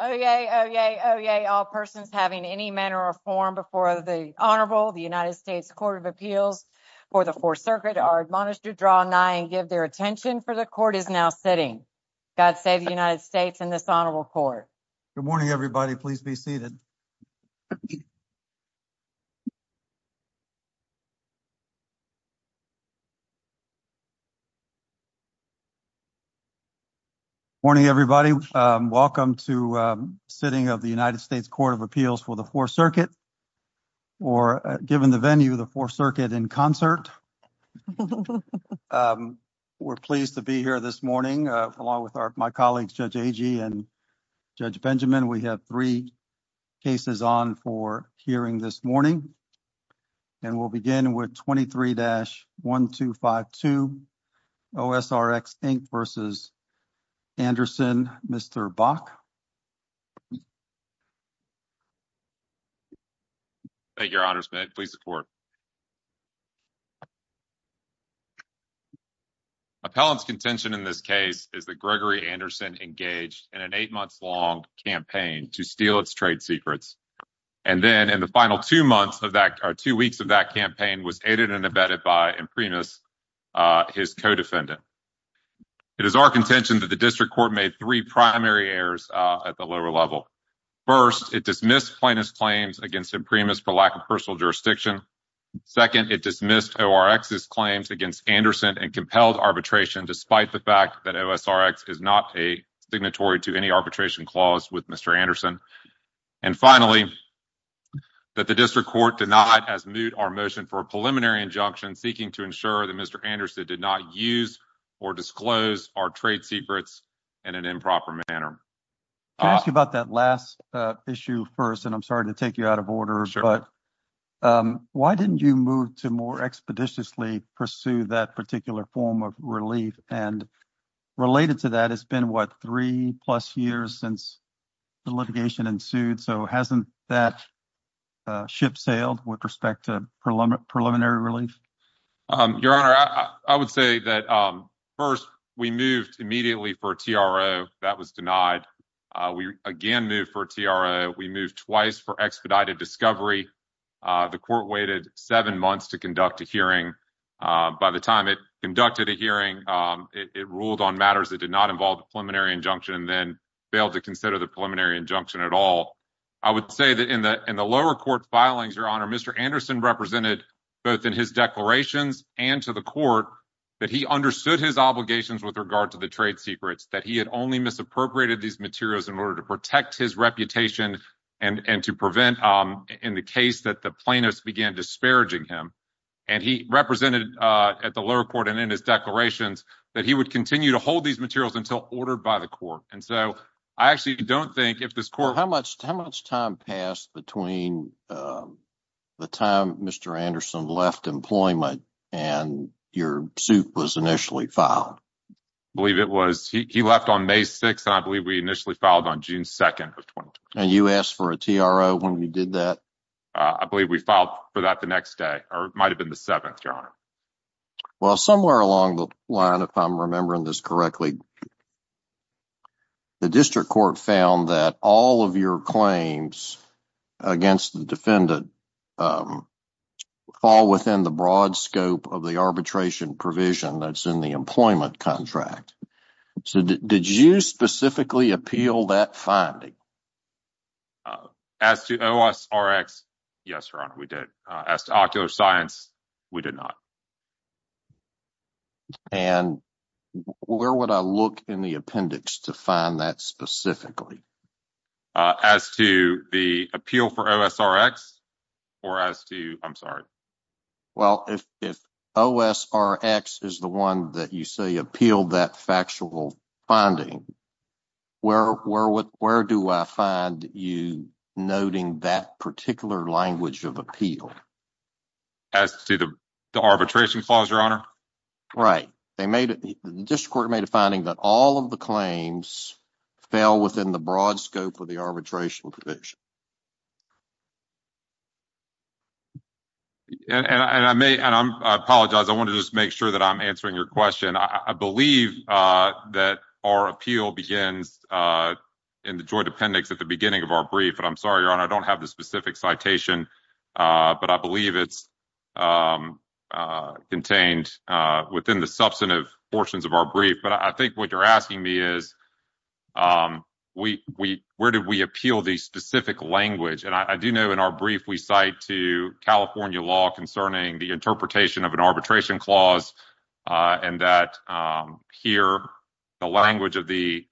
Oyez, oyez, oyez, all persons having any manner or form before the Honorable, the United States Court of Appeals for the Fourth Circuit are admonished to draw nigh and give their attention for the court is now sitting. God save the United States and this Honorable Court. Good morning, everybody. Please be seated. Good morning, everybody. Welcome to sitting of the United States Court of Appeals for the Fourth Circuit, or given the venue, the Fourth Circuit in concert. We're pleased to be here this morning along with my colleagues, Judge Agee and Judge Benjamin. We have three cases on for hearing this morning, and we'll begin with 23-1252, OSRX, Inc. v. Anderson, Mr. Bach. Thank you, Your Honors, please support. Appellant's contention in this case is that Gregory Anderson engaged in an eight months long campaign to steal its trade secrets. And then in the final two months of that, or two weeks of that campaign was aided and abetted by Imprimis, his co-defendant. It is our contention that the district court made three primary errors at the lower level. First, it dismissed plaintiff's claims against Imprimis for lack of personal jurisdiction. Second, it dismissed ORX's claims against Anderson and compelled arbitration despite the fact that OSRX is not a signatory to any arbitration clause with Mr. Anderson. And finally, that the district court denied as moot our motion for a preliminary injunction seeking to ensure that Mr. Anderson did not use or disclose our trade secrets in an improper manner. Can I ask you about that last issue first, and I'm sorry to take you out of order, but why didn't you move to more expeditiously pursue that particular form of relief? And related to that, it's been what, three plus years since the litigation ensued? So hasn't that ship sailed with respect to preliminary relief? Your Honor, I would say that first, we moved immediately for a TRO. That was denied. We again moved for a TRO. We moved twice for expedited discovery. The court waited seven months to conduct a hearing. By the time it conducted a hearing, it ruled on matters that did not involve a preliminary injunction and then failed to consider the preliminary injunction at all. I would say that in the lower court filings, Your Honor, Mr. Anderson represented both in his declarations and to the court that he understood his obligations with regard to the trade secrets, that he had only misappropriated these materials in order to protect his reputation and to prevent, in the case that the plaintiffs began disparaging him. And he represented at the lower court and in his declarations that he would continue to hold these materials until ordered by the court. And so I actually don't think if this court- How much time passed between the time Mr. Anderson left employment and your suit was initially filed? I believe it was, he left on May 6th, and I believe we initially filed on June 2nd. And you asked for a TRO when we did that? I believe we filed for that the next day, or it might have been the 7th, Your Honor. Well somewhere along the line, if I'm remembering this correctly, the district court found that all of your claims against the defendant fall within the broad scope of the arbitration provision that's in the employment contract. So did you specifically appeal that finding? As to OSRX, yes, Your Honor, we did. As to ocular science, we did not. And where would I look in the appendix to find that specifically? As to the appeal for OSRX, or as to- I'm sorry. Well, if OSRX is the one that you say appealed that factual finding, where do I find you noting that particular language of appeal? As to the arbitration clause, Your Honor? Right. The district court made a finding that all of the claims fell within the broad scope of the arbitration provision. And I may- and I apologize, I want to just make sure that I'm answering your question. I believe that our appeal begins in the joint appendix at the beginning of our brief, but I'm sorry, Your Honor, I don't have the specific citation, but I believe it's contained within the substantive portions of our brief. But I think what you're asking me is, where did we appeal the specific language? And I do know in our brief, we cite to California law concerning the interpretation of an arbitration clause and that here, the language of the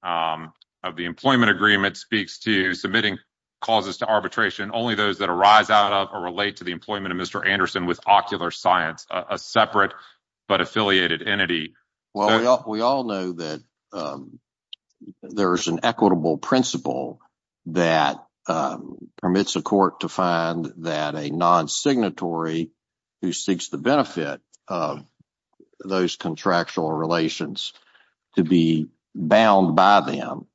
employment agreement speaks to submitting causes to arbitration, only those that arise out of or relate to the employment of Mr. Anderson with ocular science, a separate but affiliated entity. Well, we all know that there's an equitable principle that permits a court to find that a non-signatory who seeks the benefit of those contractual relations to be bound by them.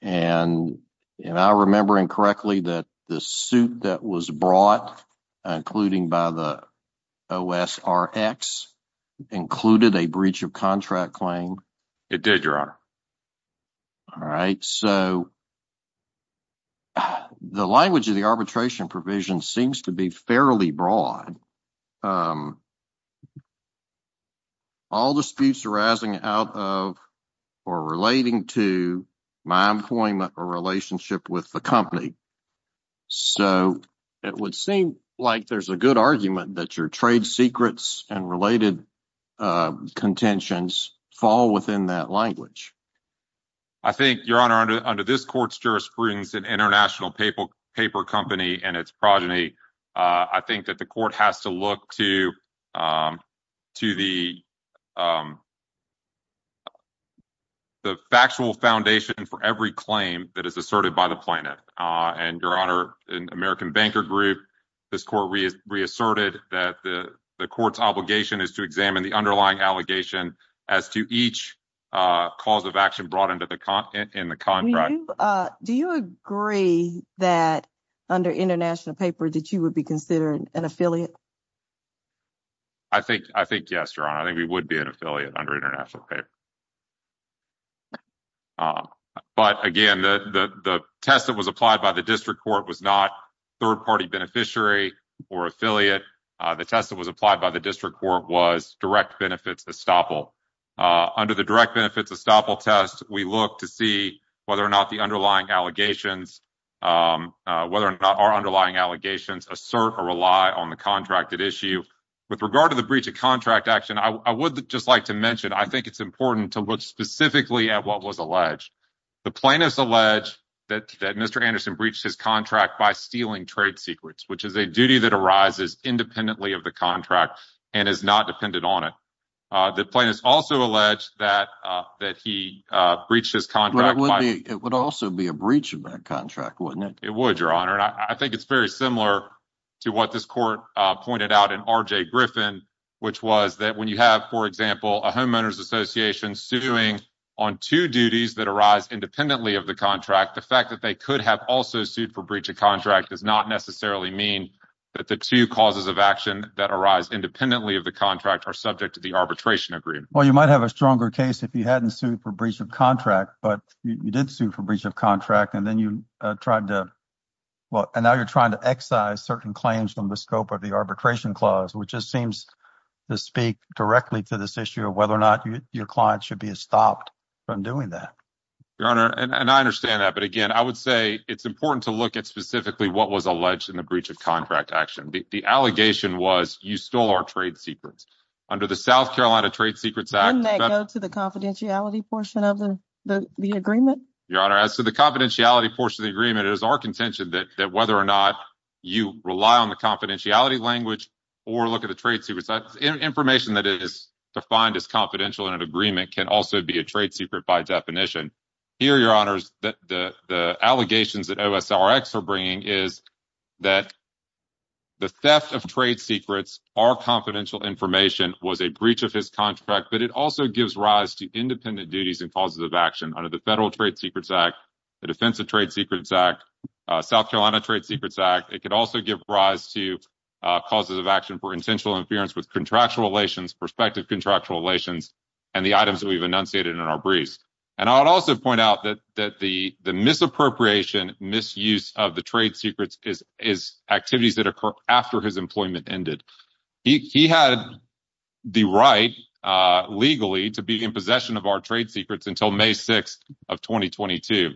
And I remember incorrectly that the suit that was brought, including by the OSRX, included a breach of contract claim. It did, Your Honor. All right. So, the language of the arbitration provision seems to be fairly broad. All disputes arising out of or relating to my employment or relationship with the company. So, it would seem like there's a good argument that your trade secrets and related contentions fall within that language. I think, Your Honor, under this court's jurisprudence, an international paper company and its progeny, I think that the court has to look to the factual foundation for every claim that is asserted by the plaintiff. And, Your Honor, in American Banker Group, this court reasserted that the court's obligation is to examine the underlying allegation as to each cause of action brought into the contract. Do you agree that under international paper that you would be considered an affiliate? I think yes, Your Honor. I think we would be an affiliate under international paper. But, again, the test that was applied by the district court was not third-party beneficiary or affiliate. The test that was applied by the district court was direct benefits estoppel. Under the direct benefits estoppel test, we look to see whether or not the underlying allegations, whether or not our underlying allegations assert or rely on the contracted issue. With regard to the breach of contract action, I would just like to mention, I think it's important to look specifically at what was alleged. The plaintiff's alleged that Mr. Anderson breached his contract by stealing trade secrets, which is a duty that arises independently of the contract and is not dependent on it. The plaintiff's also alleged that he breached his contract by— It would also be a breach of that contract, wouldn't it? It would, Your Honor. And I think it's very similar to what this court pointed out in R.J. Griffin, which was that when you have, for example, a homeowner's association suing on two duties that arise independently of the contract, the fact that they could have also sued for breach of contract does not necessarily mean that the two causes of action that arise independently of the contract are subject to the arbitration agreement. Well, you might have a stronger case if you hadn't sued for breach of contract, but you did sue for breach of contract, and then you tried to—well, and now you're trying to excise certain claims from the scope of the arbitration clause, which just seems to speak directly to this issue of whether or not your client should be stopped from doing that. Your Honor, and I understand that, but again, I would say it's important to look at specifically what was alleged in the breach of contract action. The allegation was you stole our trade secrets. Under the South Carolina Trade Secrets Act— Wouldn't that go to the confidentiality portion of the agreement? Your Honor, as to the confidentiality portion of the agreement, it is our contention that whether or not you rely on the confidentiality language or look at the trade secrets— information that is defined as confidential in an agreement can also be a trade secret by definition. Here, Your Honors, the allegations that OSRX are bringing is that the theft of trade secrets or confidential information was a breach of his contract, but it also gives rise to independent duties and causes of action. Under the Federal Trade Secrets Act, the Defense of Trade Secrets Act, South Carolina Trade Secrets Act, it could also give rise to causes of action for intentional interference with contractual relations, prospective contractual relations, and the items that we've enunciated in our briefs. And I would also point out that the misappropriation, misuse of the trade secrets is activities that occur after his employment ended. He had the right, legally, to be in possession of our trade secrets until May 6th of 2022.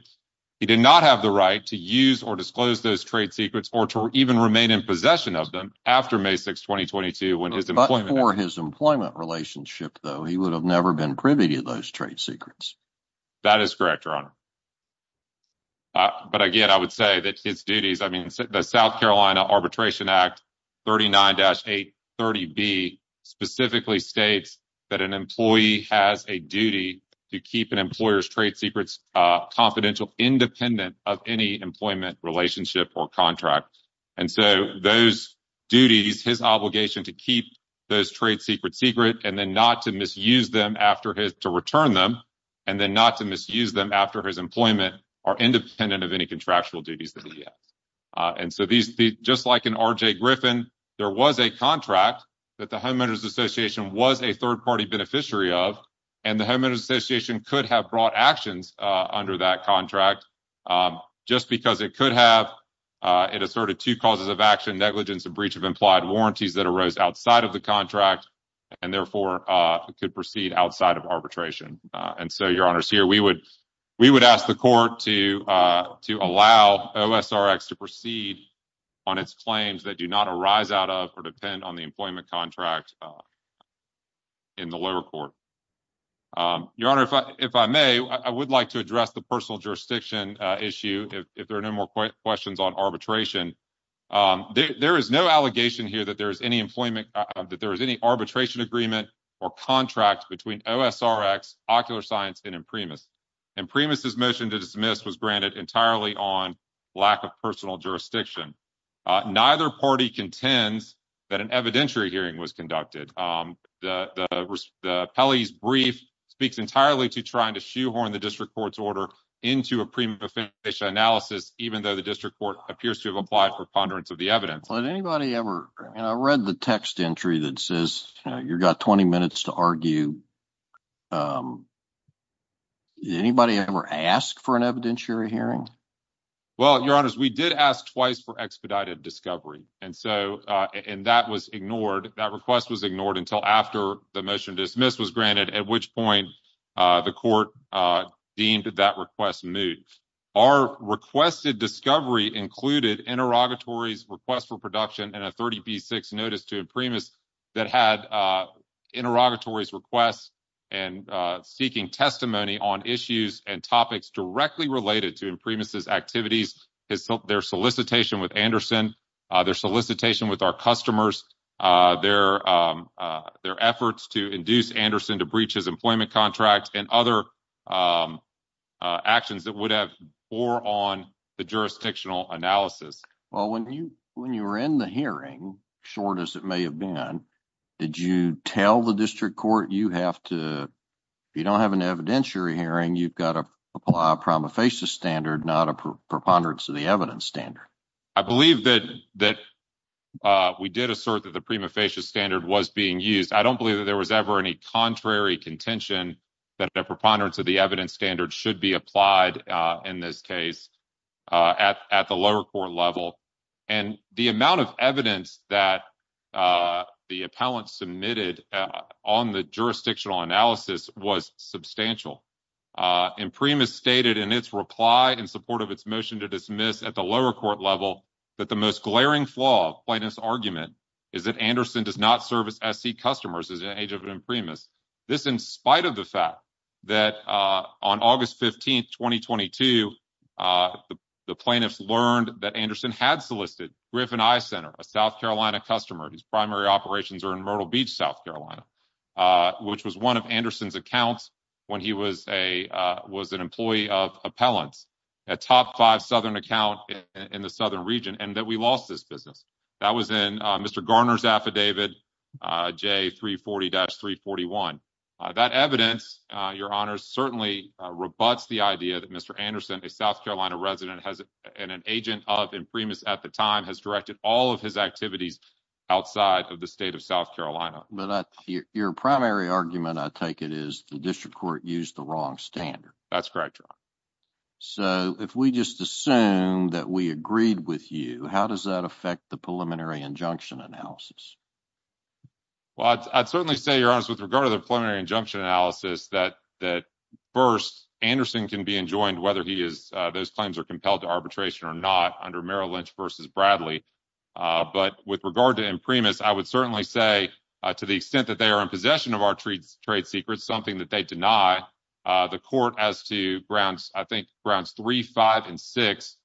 He did not have the right to use or disclose those trade secrets or to even remain in possession of them after May 6th, 2022, when his employment— But for his employment relationship, though, he would have never been privy to those trade secrets. That is correct, Your Honor. But again, I would say that his duties—I mean, the South Carolina Arbitration Act 39-830B specifically states that an employee has a duty to keep an employer's trade secrets confidential, independent of any employment relationship or contract. And so those duties, his obligation to keep those trade secrets secret and then not to misuse them after his—to return them and then not to misuse them after his employment are independent of any contractual duties that he has. And so these—just like in R.J. Griffin, there was a contract that the Homeowners Association was a third-party beneficiary of, and the Homeowners Association could have brought actions under that contract, just because it could have—it asserted two causes of action—negligence of breach of implied warranties that arose outside of the contract and therefore could proceed outside of arbitration. And so, Your Honor, we would ask the court to allow OSRX to proceed on its claims that do not arise out of or depend on the employment contract in the lower court. Your Honor, if I may, I would like to address the personal jurisdiction issue, if there are no more questions on arbitration. There is no allegation here that there is any employment—that there is any arbitration agreement or contract between OSRX, Ocular Science, and Imprimis. Imprimis' motion to dismiss was granted entirely on lack of personal jurisdiction. Neither party contends that an evidentiary hearing was conducted. The appellee's brief speaks entirely to trying to shoehorn the district court's order into a prima facie analysis, even though the district court appears to have applied for ponderance of the evidence. Anybody ever—and I read the text entry that says you've got 20 minutes to argue. Anybody ever ask for an evidentiary hearing? Well, Your Honors, we did ask twice for expedited discovery, and so—and that was ignored. That request was ignored until after the motion to dismiss was granted, at which point the court deemed that request moot. Our requested discovery included interrogatories, requests for production, and a 30B6 notice to Imprimis that had interrogatories, requests, and seeking testimony on issues and topics directly related to Imprimis' activities, their solicitation with Anderson, their solicitation with our customers, their efforts to induce Anderson to breach his employment contract, and other actions that would have bore on the jurisdictional analysis. Well, when you were in the hearing, short as it may have been, did you tell the district court you have to—if you don't have an evidentiary hearing, you've got to apply a prima facie standard, not a preponderance of the evidence standard? I believe that we did assert that the prima facie standard was being used. I don't believe that there was ever any contrary contention that a preponderance of the evidence standard should be applied in this case at the lower court level. And the amount of evidence that the appellant submitted on the jurisdictional analysis was substantial. Imprimis stated in its reply in support of its motion to dismiss at the lower court level that the most glaring flaw of plaintiff's argument is that Anderson does not service SC customers as an agent of Imprimis. This in spite of the fact that on August 15, 2022, the plaintiffs learned that Anderson had solicited Griffin Eye Center, a South Carolina customer whose primary operations are in Myrtle Beach, South Carolina, which was one of Anderson's accounts when he was an employee of appellants, a top five Southern account in the Southern region, and that we lost this business. That was in Mr. Garner's affidavit, J340-341. That evidence, Your Honor, certainly rebutts the idea that Mr. Anderson, a South Carolina resident and an agent of Imprimis at the time, has directed all of his activities outside of the state of South Carolina. Your primary argument, I take it, is the district court used the wrong standard. That's correct, Your Honor. So if we just assume that we agreed with you, how does that affect the preliminary injunction analysis? Well, I'd certainly say, Your Honor, with regard to the preliminary injunction analysis, that first, Anderson can be enjoined whether those claims are compelled to arbitration or not under Merrill Lynch v. Bradley. But with regard to Imprimis, I would certainly say, to the extent that they are in possession of our trade secrets, something that they deny, the court as to grounds, I think, grounds three, five, and six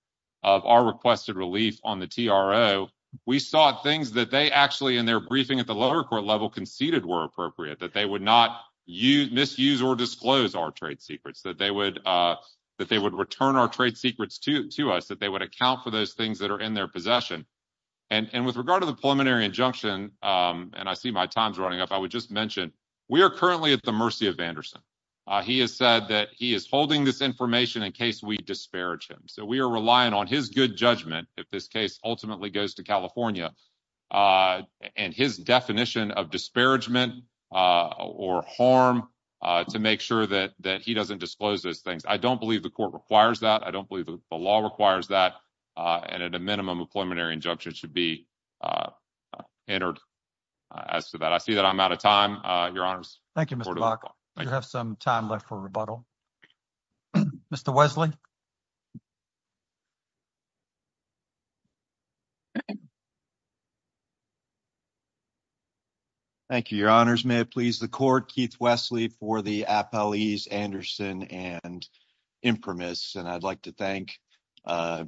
of our requested relief on the TRO, we sought things that they actually in their briefing at the lower court level conceded were appropriate, that they would not misuse or disclose our trade secrets, that they would return our trade secrets to us, that they would account for those things that are in their possession. And with regard to the preliminary injunction, and I see my time's running up, I would just mention, we are currently at the mercy of Anderson. He has said that he is holding this information in case we disparage him. So we are relying on his good judgment, if this case ultimately goes to California, and his definition of disparagement or harm to make sure that he doesn't disclose those things. I don't believe the court requires that. I don't believe the law requires that. And at a minimum, a preliminary injunction should be entered as to that. I see that I'm out of time. Your Honors. Thank you, Mr. Buck. You have some time left for rebuttal. Mr. Wesley. Thank you, Your Honors. May it please the court, Keith Wesley for the appellees Anderson and Imprimis. And I'd like to thank the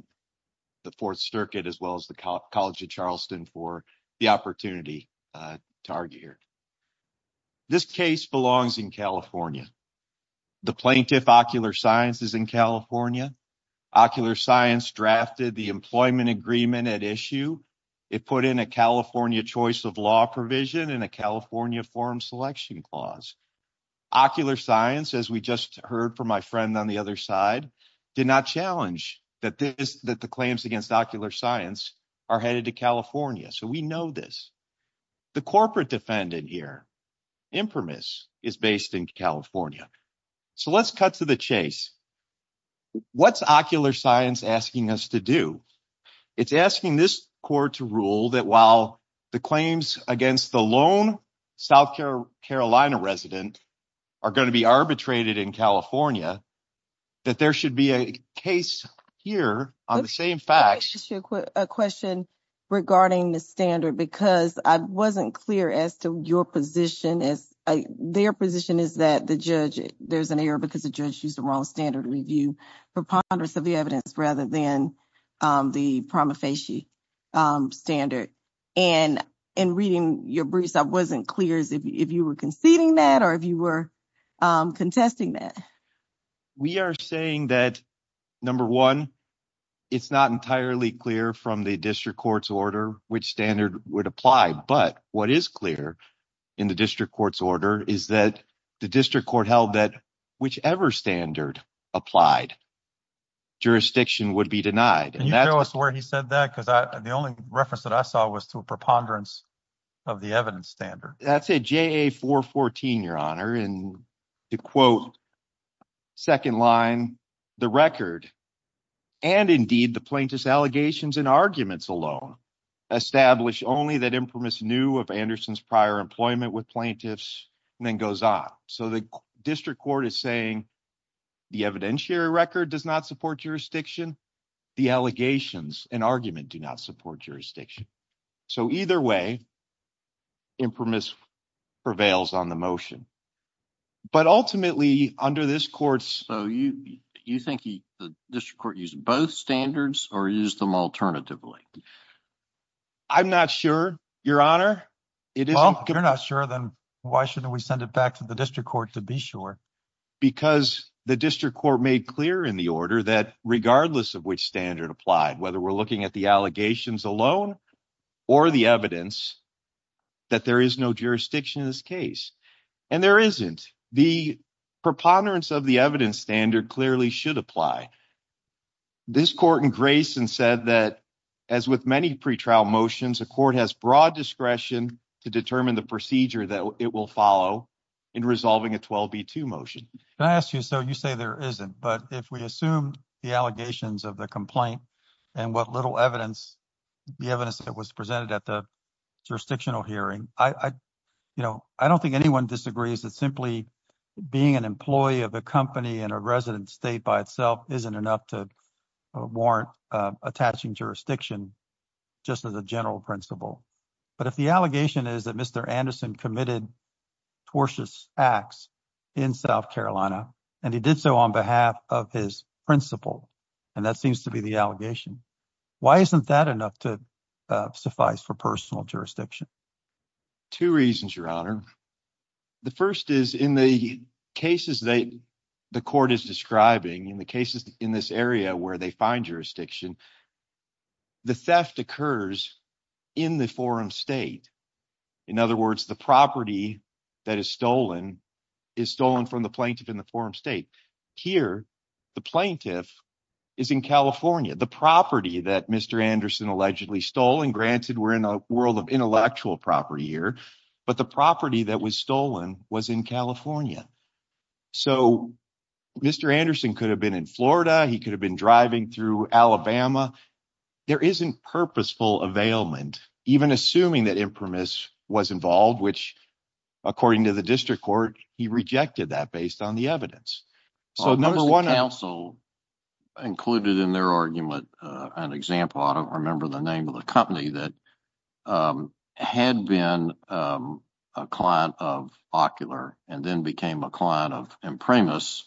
Fourth Circuit, as well as the College of Charleston, for the opportunity to argue here. This case belongs in California. The plaintiff, Ocular Science, is in California. Ocular Science drafted the employment agreement at issue. It put in a California choice of law provision and a California form selection clause. Ocular Science, as we just heard from my friend on the other side, did not challenge that the claims against Ocular Science are headed to California. So we know this. The corporate defendant here, Imprimis, is based in California. So let's cut to the chase. What's Ocular Science asking us to do? It's asking this court to rule that while the claims against the lone South Carolina resident are going to be arbitrated in California, that there should be a case here on the same facts. Let me ask you a question regarding the standard, because I wasn't clear as to your position. Their position is that there's an error because the judge used the wrong standard review preponderance of the evidence rather than the prima facie standard. And in reading your briefs, I wasn't clear as if you were conceding that or if you were contesting that. We are saying that, number one, it's not entirely clear from the district court's order which standard would apply. But what is clear in the district court's order is that the district court held that whichever standard applied, jurisdiction would be denied. Can you show us where he said that? Because the only reference that I saw was to a preponderance of the evidence standard. That's it, JA 414, your honor. And to quote second line, the record and indeed the plaintiff's allegations and arguments alone establish only that Imprimis knew of Anderson's prior employment with plaintiffs and then goes on. So the district court is saying the evidentiary record does not support jurisdiction. The allegations and argument do not support jurisdiction. So either way, Imprimis prevails on the motion. But ultimately, under this court's. So you think the district court used both standards or used them alternatively? I'm not sure, your honor. You're not sure, then why shouldn't we send it back to the district court to be sure? Because the district court made clear in the order that regardless of which standard applied, whether we're looking at the allegations alone or the evidence. That there is no jurisdiction in this case, and there isn't the preponderance of the evidence standard clearly should apply. This court in Grayson said that as with many pre trial motions, a court has broad discretion to determine the procedure that it will follow in resolving a 12B2 motion. Can I ask you, so you say there isn't, but if we assume the allegations of the complaint and what little evidence, the evidence that was presented at the jurisdictional hearing, I don't think anyone disagrees that simply being an employee of a company in a resident state by itself isn't enough to warrant attaching jurisdiction just as a general principle. But if the allegation is that Mr. Anderson committed tortious acts in South Carolina, and he did so on behalf of his principal, and that seems to be the allegation. Why isn't that enough to suffice for personal jurisdiction? Two reasons, your honor. The first is in the cases that the court is describing in the cases in this area where they find jurisdiction, the theft occurs in the forum state. In other words, the property that is stolen is stolen from the plaintiff in the forum state. Here, the plaintiff is in California. The property that Mr. Anderson allegedly stole, and granted we're in a world of intellectual property here, but the property that was stolen was in California. So, Mr. Anderson could have been in Florida. He could have been driving through Alabama. There isn't purposeful availment, even assuming that impremise was involved, which, according to the district court, he rejected that based on the evidence. So, number one. Most of the counsel included in their argument an example, I don't remember the name of the company that had been a client of Ocular and then became a client of Imprimis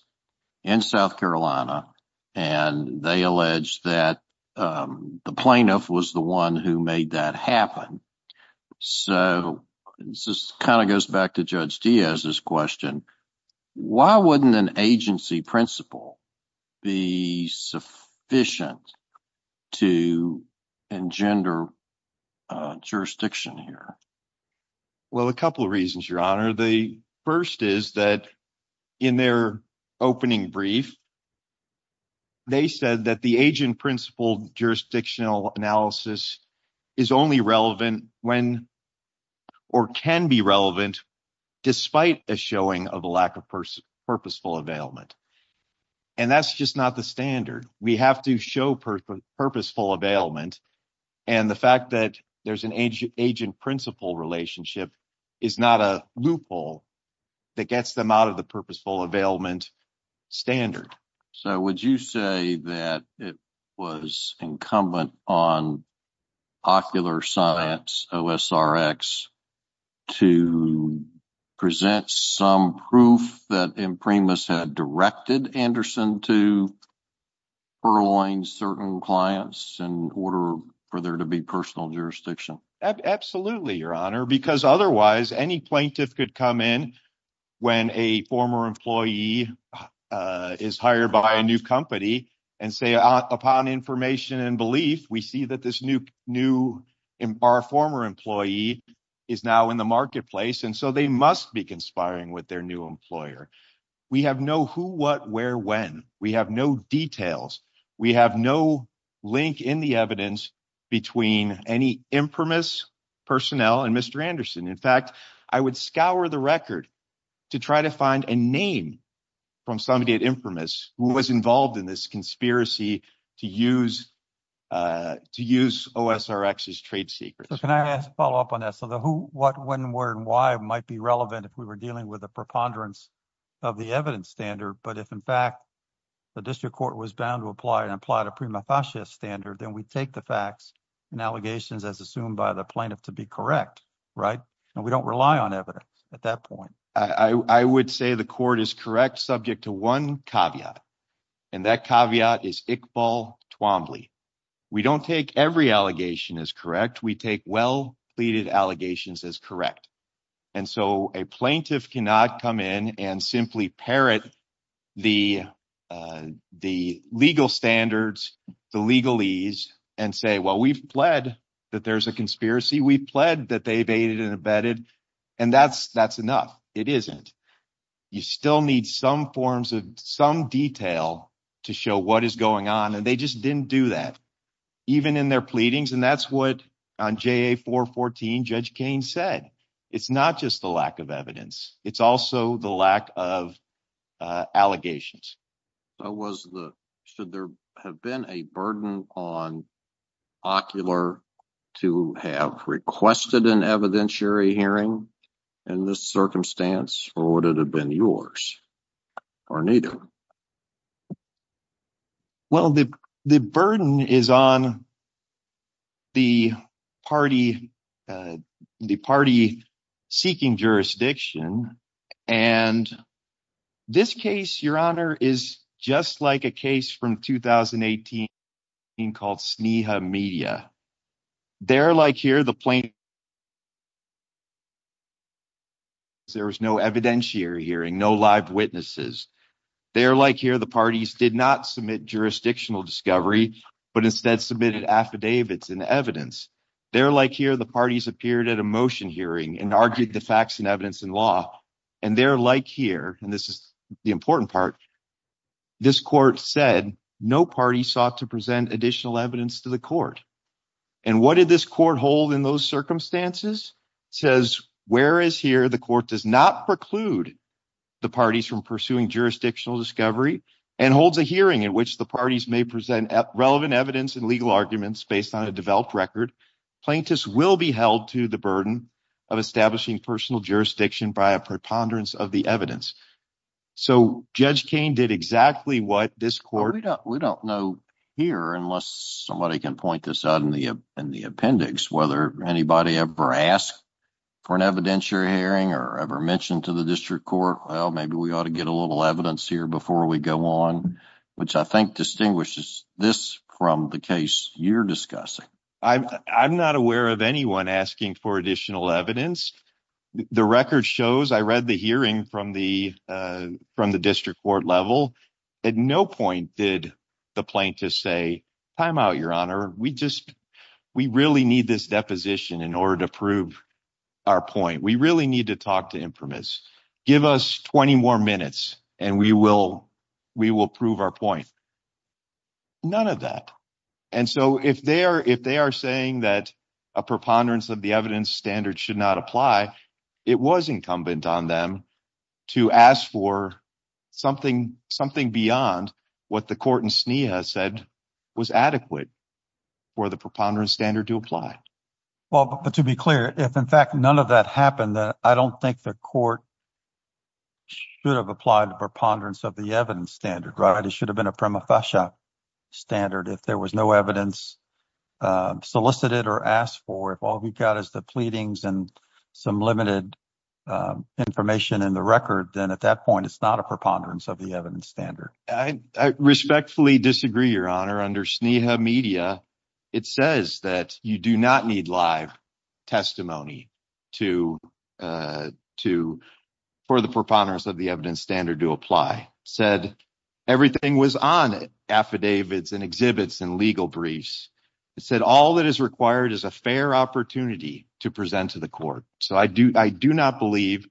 in South Carolina, and they alleged that the plaintiff was the one who made that happen. So, this kind of goes back to Judge Diaz's question. Why wouldn't an agency principle be sufficient to engender jurisdiction here? Well, a couple of reasons, Your Honor. The first is that in their opening brief, they said that the agent principle jurisdictional analysis is only relevant when, or can be relevant despite a showing of a lack of purposeful availment, and that's just not the standard. We have to show purposeful availment, and the fact that there's an agent principle relationship is not a loophole that gets them out of the purposeful availment standard. So, would you say that it was incumbent on Ocular Science OSRX to present some proof that Imprimis had directed Anderson to furloughing certain clients in order for there to be personal jurisdiction? Absolutely, Your Honor, because otherwise any plaintiff could come in when a former employee is hired by a new company and say, upon information and belief, we see that this new, our former employee is now in the marketplace, and so they must be conspiring with their new employer. We have no who, what, where, when. We have no details. We have no link in the evidence between any Imprimis personnel and Mr. Anderson. In fact, I would scour the record to try to find a name from somebody at Imprimis who was involved in this conspiracy to use OSRX's trade secrets. So, can I ask a follow-up on that? So, the who, what, when, where, and why might be relevant if we were dealing with a preponderance of the evidence standard, but if, in fact, the district court was bound to apply and apply to prima facie standard, then we take the facts and allegations as assumed by the plaintiff to be correct, right? And we don't rely on evidence at that point. I would say the court is correct subject to one caveat, and that caveat is Iqbal Twombly. We don't take every allegation as correct. We take well-pleaded allegations as correct. And so, a plaintiff cannot come in and simply parrot the legal standards, the legalese, and say, well, we've pled that there's a conspiracy. We've pled that they've aided and abetted, and that's enough. It isn't. You still need some forms of some detail to show what is going on, and they just didn't do that, even in their pleadings. And that's what, on JA-414, Judge Kane said. It's not just the lack of evidence. It's also the lack of allegations. So, should there have been a burden on Ocular to have requested an evidentiary hearing in this circumstance, or would it have been yours, or neither? Well, the burden is on the party seeking jurisdiction. And this case, Your Honor, is just like a case from 2018 called Sneha Media. There, like here, the plaintiff, there was no evidentiary hearing, no live witnesses. There, like here, the parties did not submit jurisdictional discovery, but instead submitted affidavits and evidence. There, like here, the parties appeared at a motion hearing and argued the facts and law, and there, like here, and this is the important part, this court said no party sought to present additional evidence to the court. And what did this court hold in those circumstances? It says, whereas here the court does not preclude the parties from pursuing jurisdictional discovery and holds a hearing in which the parties may present relevant evidence and legal arguments based on a developed record, plaintiffs will be held to the burden of establishing personal jurisdiction by a preponderance of the evidence. So, Judge Koehn did exactly what this court... We don't know here, unless somebody can point this out in the appendix, whether anybody ever asked for an evidentiary hearing or ever mentioned to the district court, well, maybe we ought to get a little evidence here before we go on, which I think distinguishes this from the case you're discussing. I'm not aware of anyone asking for additional evidence. The record shows, I read the hearing from the district court level. At no point did the plaintiffs say, time out, Your Honor, we really need this deposition in order to prove our point. We really need to talk to impermits. Give us 20 more minutes and we will prove our point. None of that. And so, if they are saying that a preponderance of the evidence standard should not apply, it was incumbent on them to ask for something beyond what the court in Sneha said was adequate for the preponderance standard to apply. Well, but to be clear, if in fact none of that happened, I don't think the court should have applied the preponderance of the evidence standard, right? It should have been a prima facie standard. If there was no evidence solicited or asked for, if all we got is the pleadings and some limited information in the record, then at that point, it's not a preponderance of the evidence standard. I respectfully disagree, Your Honor. Under Sneha Media, it says that you do not need live testimony for the preponderance of the evidence standard to apply. It said everything was on it, affidavits and exhibits and legal briefs. It said all that is required is a fair opportunity to present to the court. So, I do not believe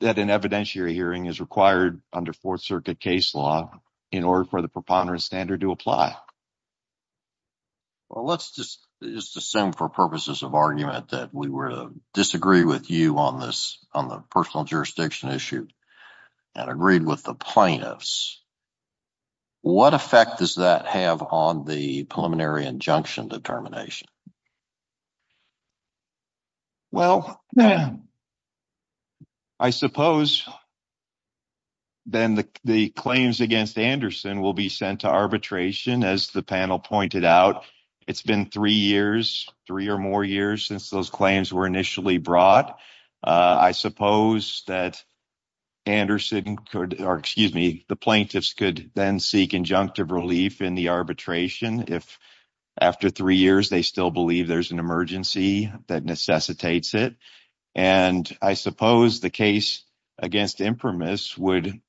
that an evidentiary hearing is required under Fourth Circuit case law in order for the preponderance standard to apply. Well, let's just assume for purposes of argument that we were to disagree with you on the personal jurisdiction issue and agreed with the plaintiffs, what effect does that have on the preliminary injunction determination? Well, I suppose then the claims against Anderson will be sent to arbitration, as the panel pointed out. It's been three years, three or more years since those claims were initially brought. I suppose that Anderson could, or excuse me, the plaintiffs could then seek injunctive relief in the arbitration if, after three years, they still believe there's an emergency that necessitates it. And I suppose the case against Imprimis would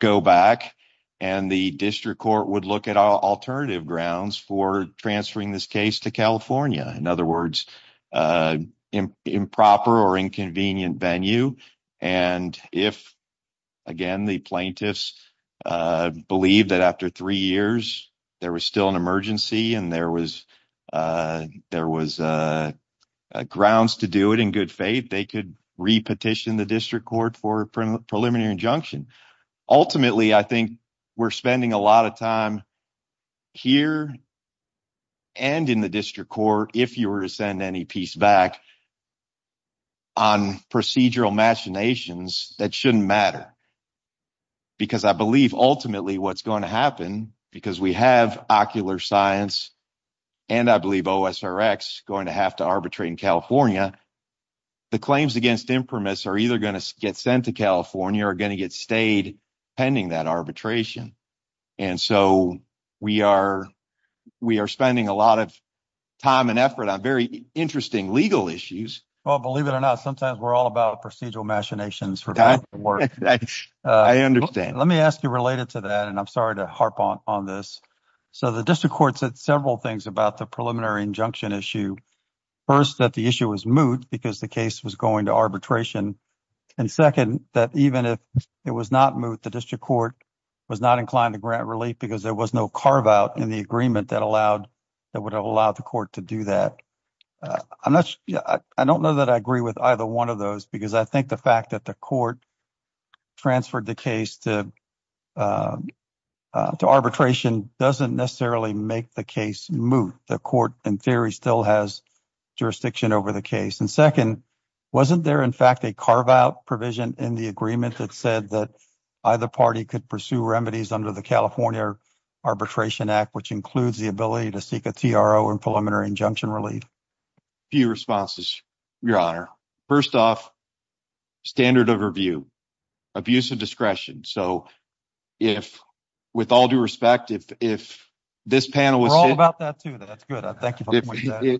go back and the district court would look at alternative grounds for transferring this case to California. In other words, improper or inconvenient venue. And if, again, the plaintiffs believe that after three years there was still an emergency and there was grounds to do it in good faith, they could re-petition the district court for a preliminary injunction. Ultimately, I think we're spending a lot of time here and in the district court, if you were to send any piece back, on procedural machinations that shouldn't matter. Because I believe ultimately what's going to happen, because we have ocular science and I believe OSRX going to have to arbitrate in California, the claims against Imprimis are either going to get sent to California or going to get stayed pending that arbitration. And so we are spending a lot of time and effort on very interesting legal issues. Well, believe it or not, sometimes we're all about procedural machinations. I understand. Let me ask you related to that, and I'm sorry to harp on this. So the district court said several things about the preliminary injunction issue. First, that the issue was moot because the case was going to arbitration. And second, that even if it was not moot, the district court was not inclined to grant relief because there was no carve-out in the agreement that would have allowed the court to do that. I don't know that I agree with either one of those, because I think the fact that the court transferred the case to arbitration doesn't necessarily make the case moot. The court, in theory, still has jurisdiction over the case. And second, wasn't there, in fact, a carve-out provision in the agreement that said that either party could pursue remedies under the California Arbitration Act, which includes the ability to seek a TRO and preliminary injunction relief? A few responses, Your Honor. First off, standard of review, abuse of discretion. So with all due respect, if this panel was—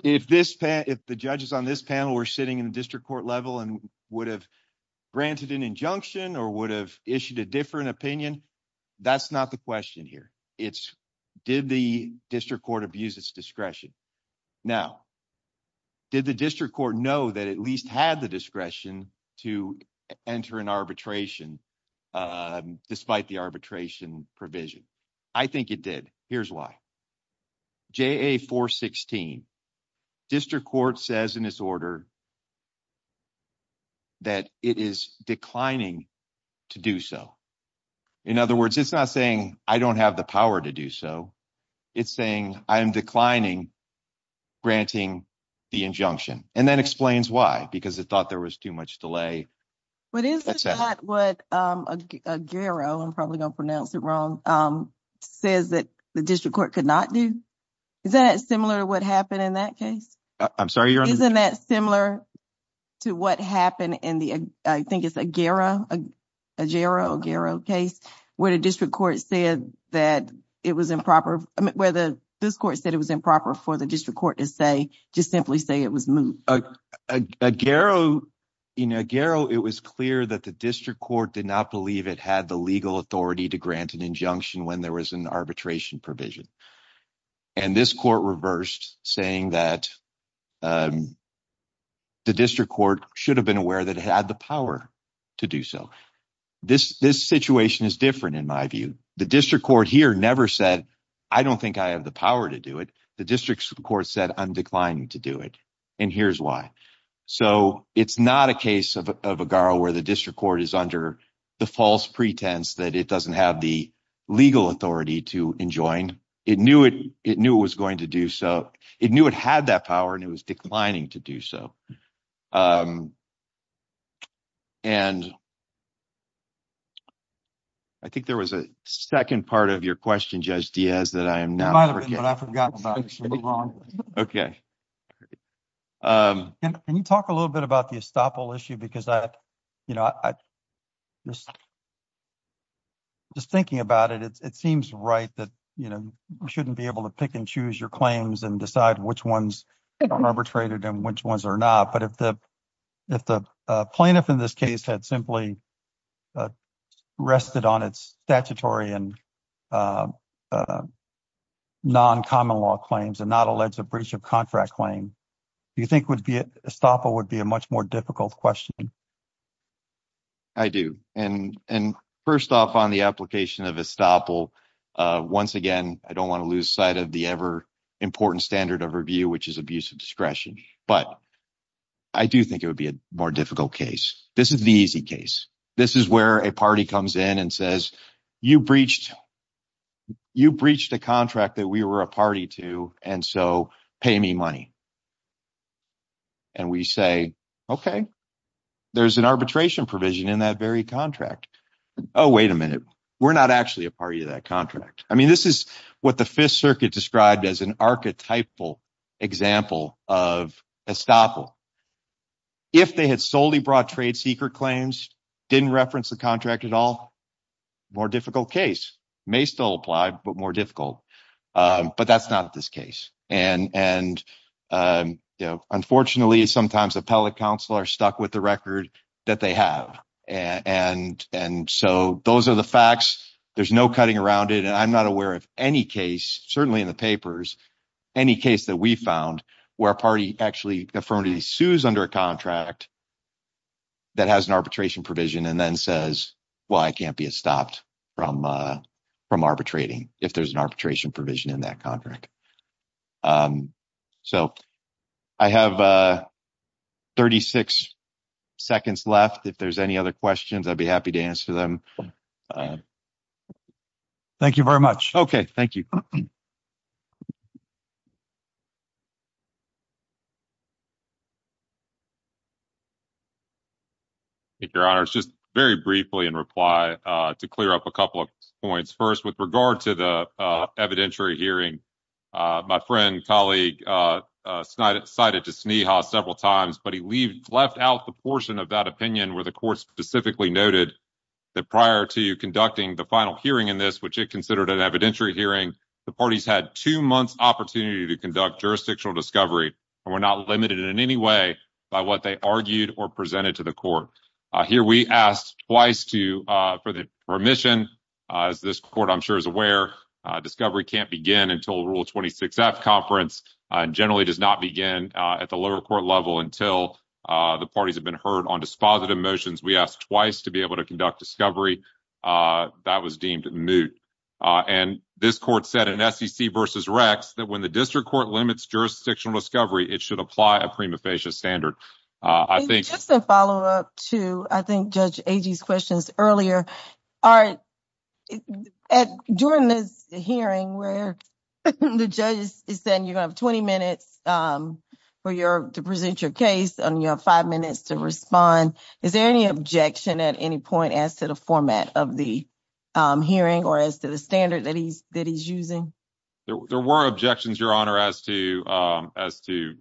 If the judges on this panel were sitting in the district court level and would have granted an injunction or would have issued a different opinion, that's not the question here. It's, did the district court abuse its discretion? Now, did the district court know that it at least had the discretion to enter an arbitration despite the arbitration provision? I think it did. Here's why. JA-416, district court says in its order that it is declining to do so. In other words, it's not saying, I don't have the power to do so. It's saying, I am declining granting the injunction. And that explains why, because it thought there was too much delay. But isn't that what Aguero, I'm probably going to pronounce it wrong, says that the district court could not do? Is that similar to what happened in that case? I'm sorry, you're on mute. Isn't that similar to what happened in the, I think it's Aguero, Aguero case, where the district court said that it was improper, where the district court said it was improper for the district court to say, just simply say it was moved? Aguero, in Aguero, it was clear that the district court did not believe it had the legal authority to grant an injunction when there was an arbitration provision. And this court reversed, saying that the district court should have been aware that it had the power to do so. This situation is different, in my view. The district court here never said, I don't think I have the power to do it. The district court said, I'm declining to do it. And here's why. So it's not a case of Aguero where the district court is under the false pretense that it doesn't have the legal authority to enjoin. It knew it was going to do so. It knew it had that power, and it was declining to do so. And I think there was a second part of your question, Judge Diaz, that I am now forgetting. It might have been, but I've forgotten about it. Okay. Can you talk a little bit about the estoppel issue? Because I, you know, just thinking about it, it seems right that, you know, you shouldn't be able to pick and choose your claims and decide which ones are arbitrated and which ones are not. But if the plaintiff in this case had simply rested on its statutory and non-common law claims and not alleged a breach of contract claim, do you think estoppel would be a much more difficult question? I do. And first off, on the application of estoppel, once again, I don't want to lose sight of the ever-important standard of review, which is abuse of discretion. But I do think it would be a more difficult case. This is the easy case. This is where a party comes in and says, you breached a contract that we were a party to, and so pay me money. And we say, okay, there's an arbitration provision in that very contract. Oh, wait a minute. We're not actually a party to that contract. I mean, this is what the Fifth Circuit described as an archetypal example of estoppel. If they had solely brought trade secret claims, didn't reference the contract at all, more difficult case. May still apply, but more difficult. But that's not this case. And unfortunately, sometimes appellate counsel are stuck with the record that they have. And so those are the facts. There's no cutting around it. And I'm not aware of any case, certainly in the papers, any case that we found where a party actually affirmatively sues under a contract that has an arbitration provision and then says, well, I can't be estopped from arbitrating if there's an arbitration provision in that contract. Um, so I have, uh, 36 seconds left. If there's any other questions, I'd be happy to answer them. Thank you very much. Okay. Thank you. Thank you, Your Honor. It's just very briefly in reply to clear up a couple of points. First, with regard to the evidentiary hearing, my friend, colleague, cited to Sneha several times, but he left out the portion of that opinion where the court specifically noted that prior to conducting the final hearing in this, which it considered an evidentiary hearing, the parties had two months opportunity to conduct jurisdictional discovery. And we're not limited in any way by what they argued or presented to the court. Here, we asked twice to, uh, for the permission, as this court, I'm sure is aware, discovery can't begin until Rule 26F conference, and generally does not begin at the lower court level until the parties have been heard on dispositive motions. We asked twice to be able to conduct discovery. That was deemed moot. And this court said in SEC versus Rex, that when the district court limits jurisdictional discovery, it should apply a prima facie standard. Just to follow up to, I think, Judge Agee's questions earlier, during this hearing where the judge is saying, you have 20 minutes to present your case, and you have five minutes to respond. Is there any objection at any point as to the format of the hearing or as to the standard that he's using? There were objections, Your Honor, as to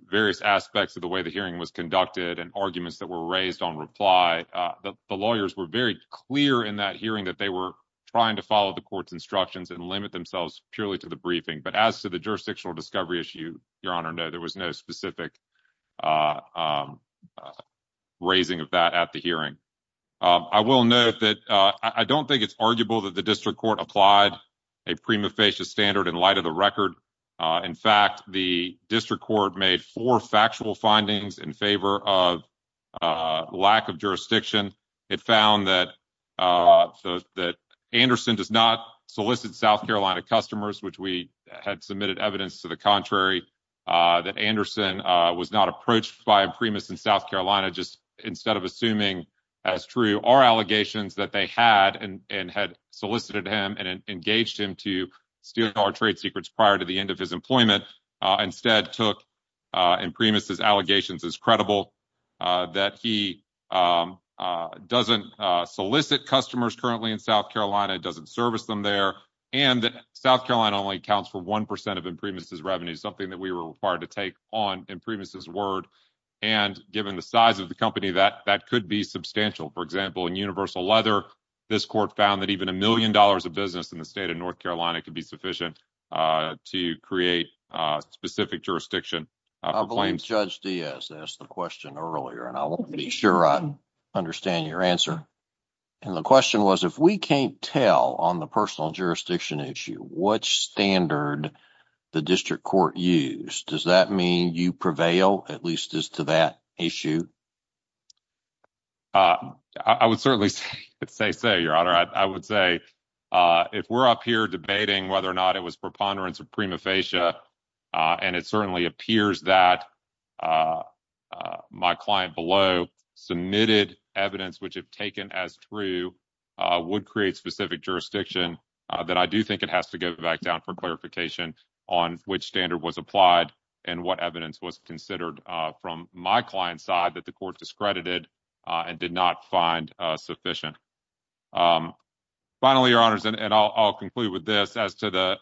various aspects of the way the hearing was conducted and arguments that were raised on reply. The lawyers were very clear in that hearing that they were trying to follow the court's instructions and limit themselves purely to the briefing. But as to the jurisdictional discovery issue, Your Honor, no, there was no specific raising of that at the hearing. I will note that I don't think it's arguable that the district court applied a prima facie standard in light of the record. In fact, the district court made four factual findings in favor of lack of jurisdiction. It found that Anderson does not solicit South Carolina customers, which we had submitted evidence to the contrary, that Anderson was not approached by a primus in South Carolina, just instead of assuming as true our allegations that they had and had solicited him and engaged him to steal our trade secrets prior to the end of his employment, instead took Imprimis' allegations as credible, that he doesn't solicit customers currently in South Carolina, doesn't service them there, and that South Carolina only accounts for 1% of Imprimis' revenue, something that we were required to take on Imprimis' word. And given the size of the company, that could be substantial. For example, in Universal Leather, this court found that even a million dollars of business in the state of North Carolina could be sufficient to create a specific jurisdiction. I believe Judge Diaz asked the question earlier, and I want to be sure I understand your answer. And the question was, if we can't tell on the personal jurisdiction issue what standard the district court used, does that mean you prevail, at least as to that issue? I would certainly say, Your Honor, I would say if we're up here debating whether or not it was preponderance of prima facie, and it certainly appears that my client below submitted evidence which if taken as true would create specific jurisdiction, then I do think it has to go back down for clarification on which standard was applied and what evidence was considered from my client's side that the court discredited and did not find sufficient. Finally, Your Honors, and I'll conclude with this, as to the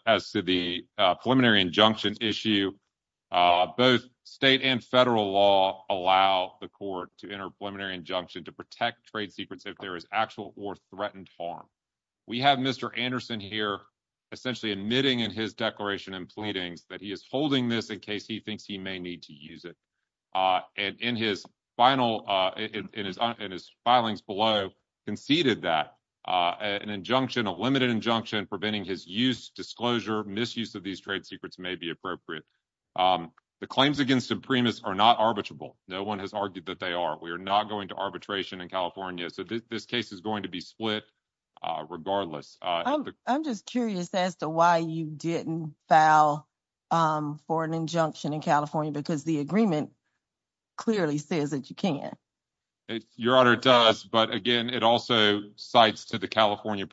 preliminary injunction issue, both state and federal law allow the court to enter preliminary injunction to protect trade secrets if there is actual or threatened harm. We have Mr. Anderson here essentially admitting in his declaration and pleadings that he is holding this in case he thinks he may need to use it. And in his filings below, conceded that an injunction, a limited injunction preventing his use, disclosure, misuse of these trade secrets may be appropriate. The claims against Supremis are not arbitrable. No one has argued that they are. We are not going to arbitration in California. So this case is going to be split regardless. I'm just curious as to why you didn't file for an injunction in California because the agreement clearly says that you can. Your Honor, it does. But again, it also cites to the California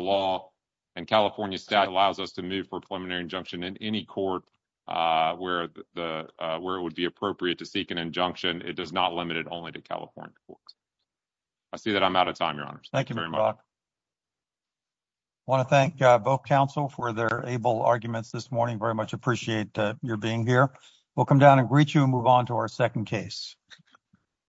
law and California stat allows us to move for a preliminary injunction in any court where it would be appropriate to seek an injunction. It does not limit it only to California courts. I see that I'm out of time, Your Honors. Thank you very much. I want to thank both counsel for their able arguments this morning. Very much appreciate your being here. We'll come down and greet you and move on to our second case.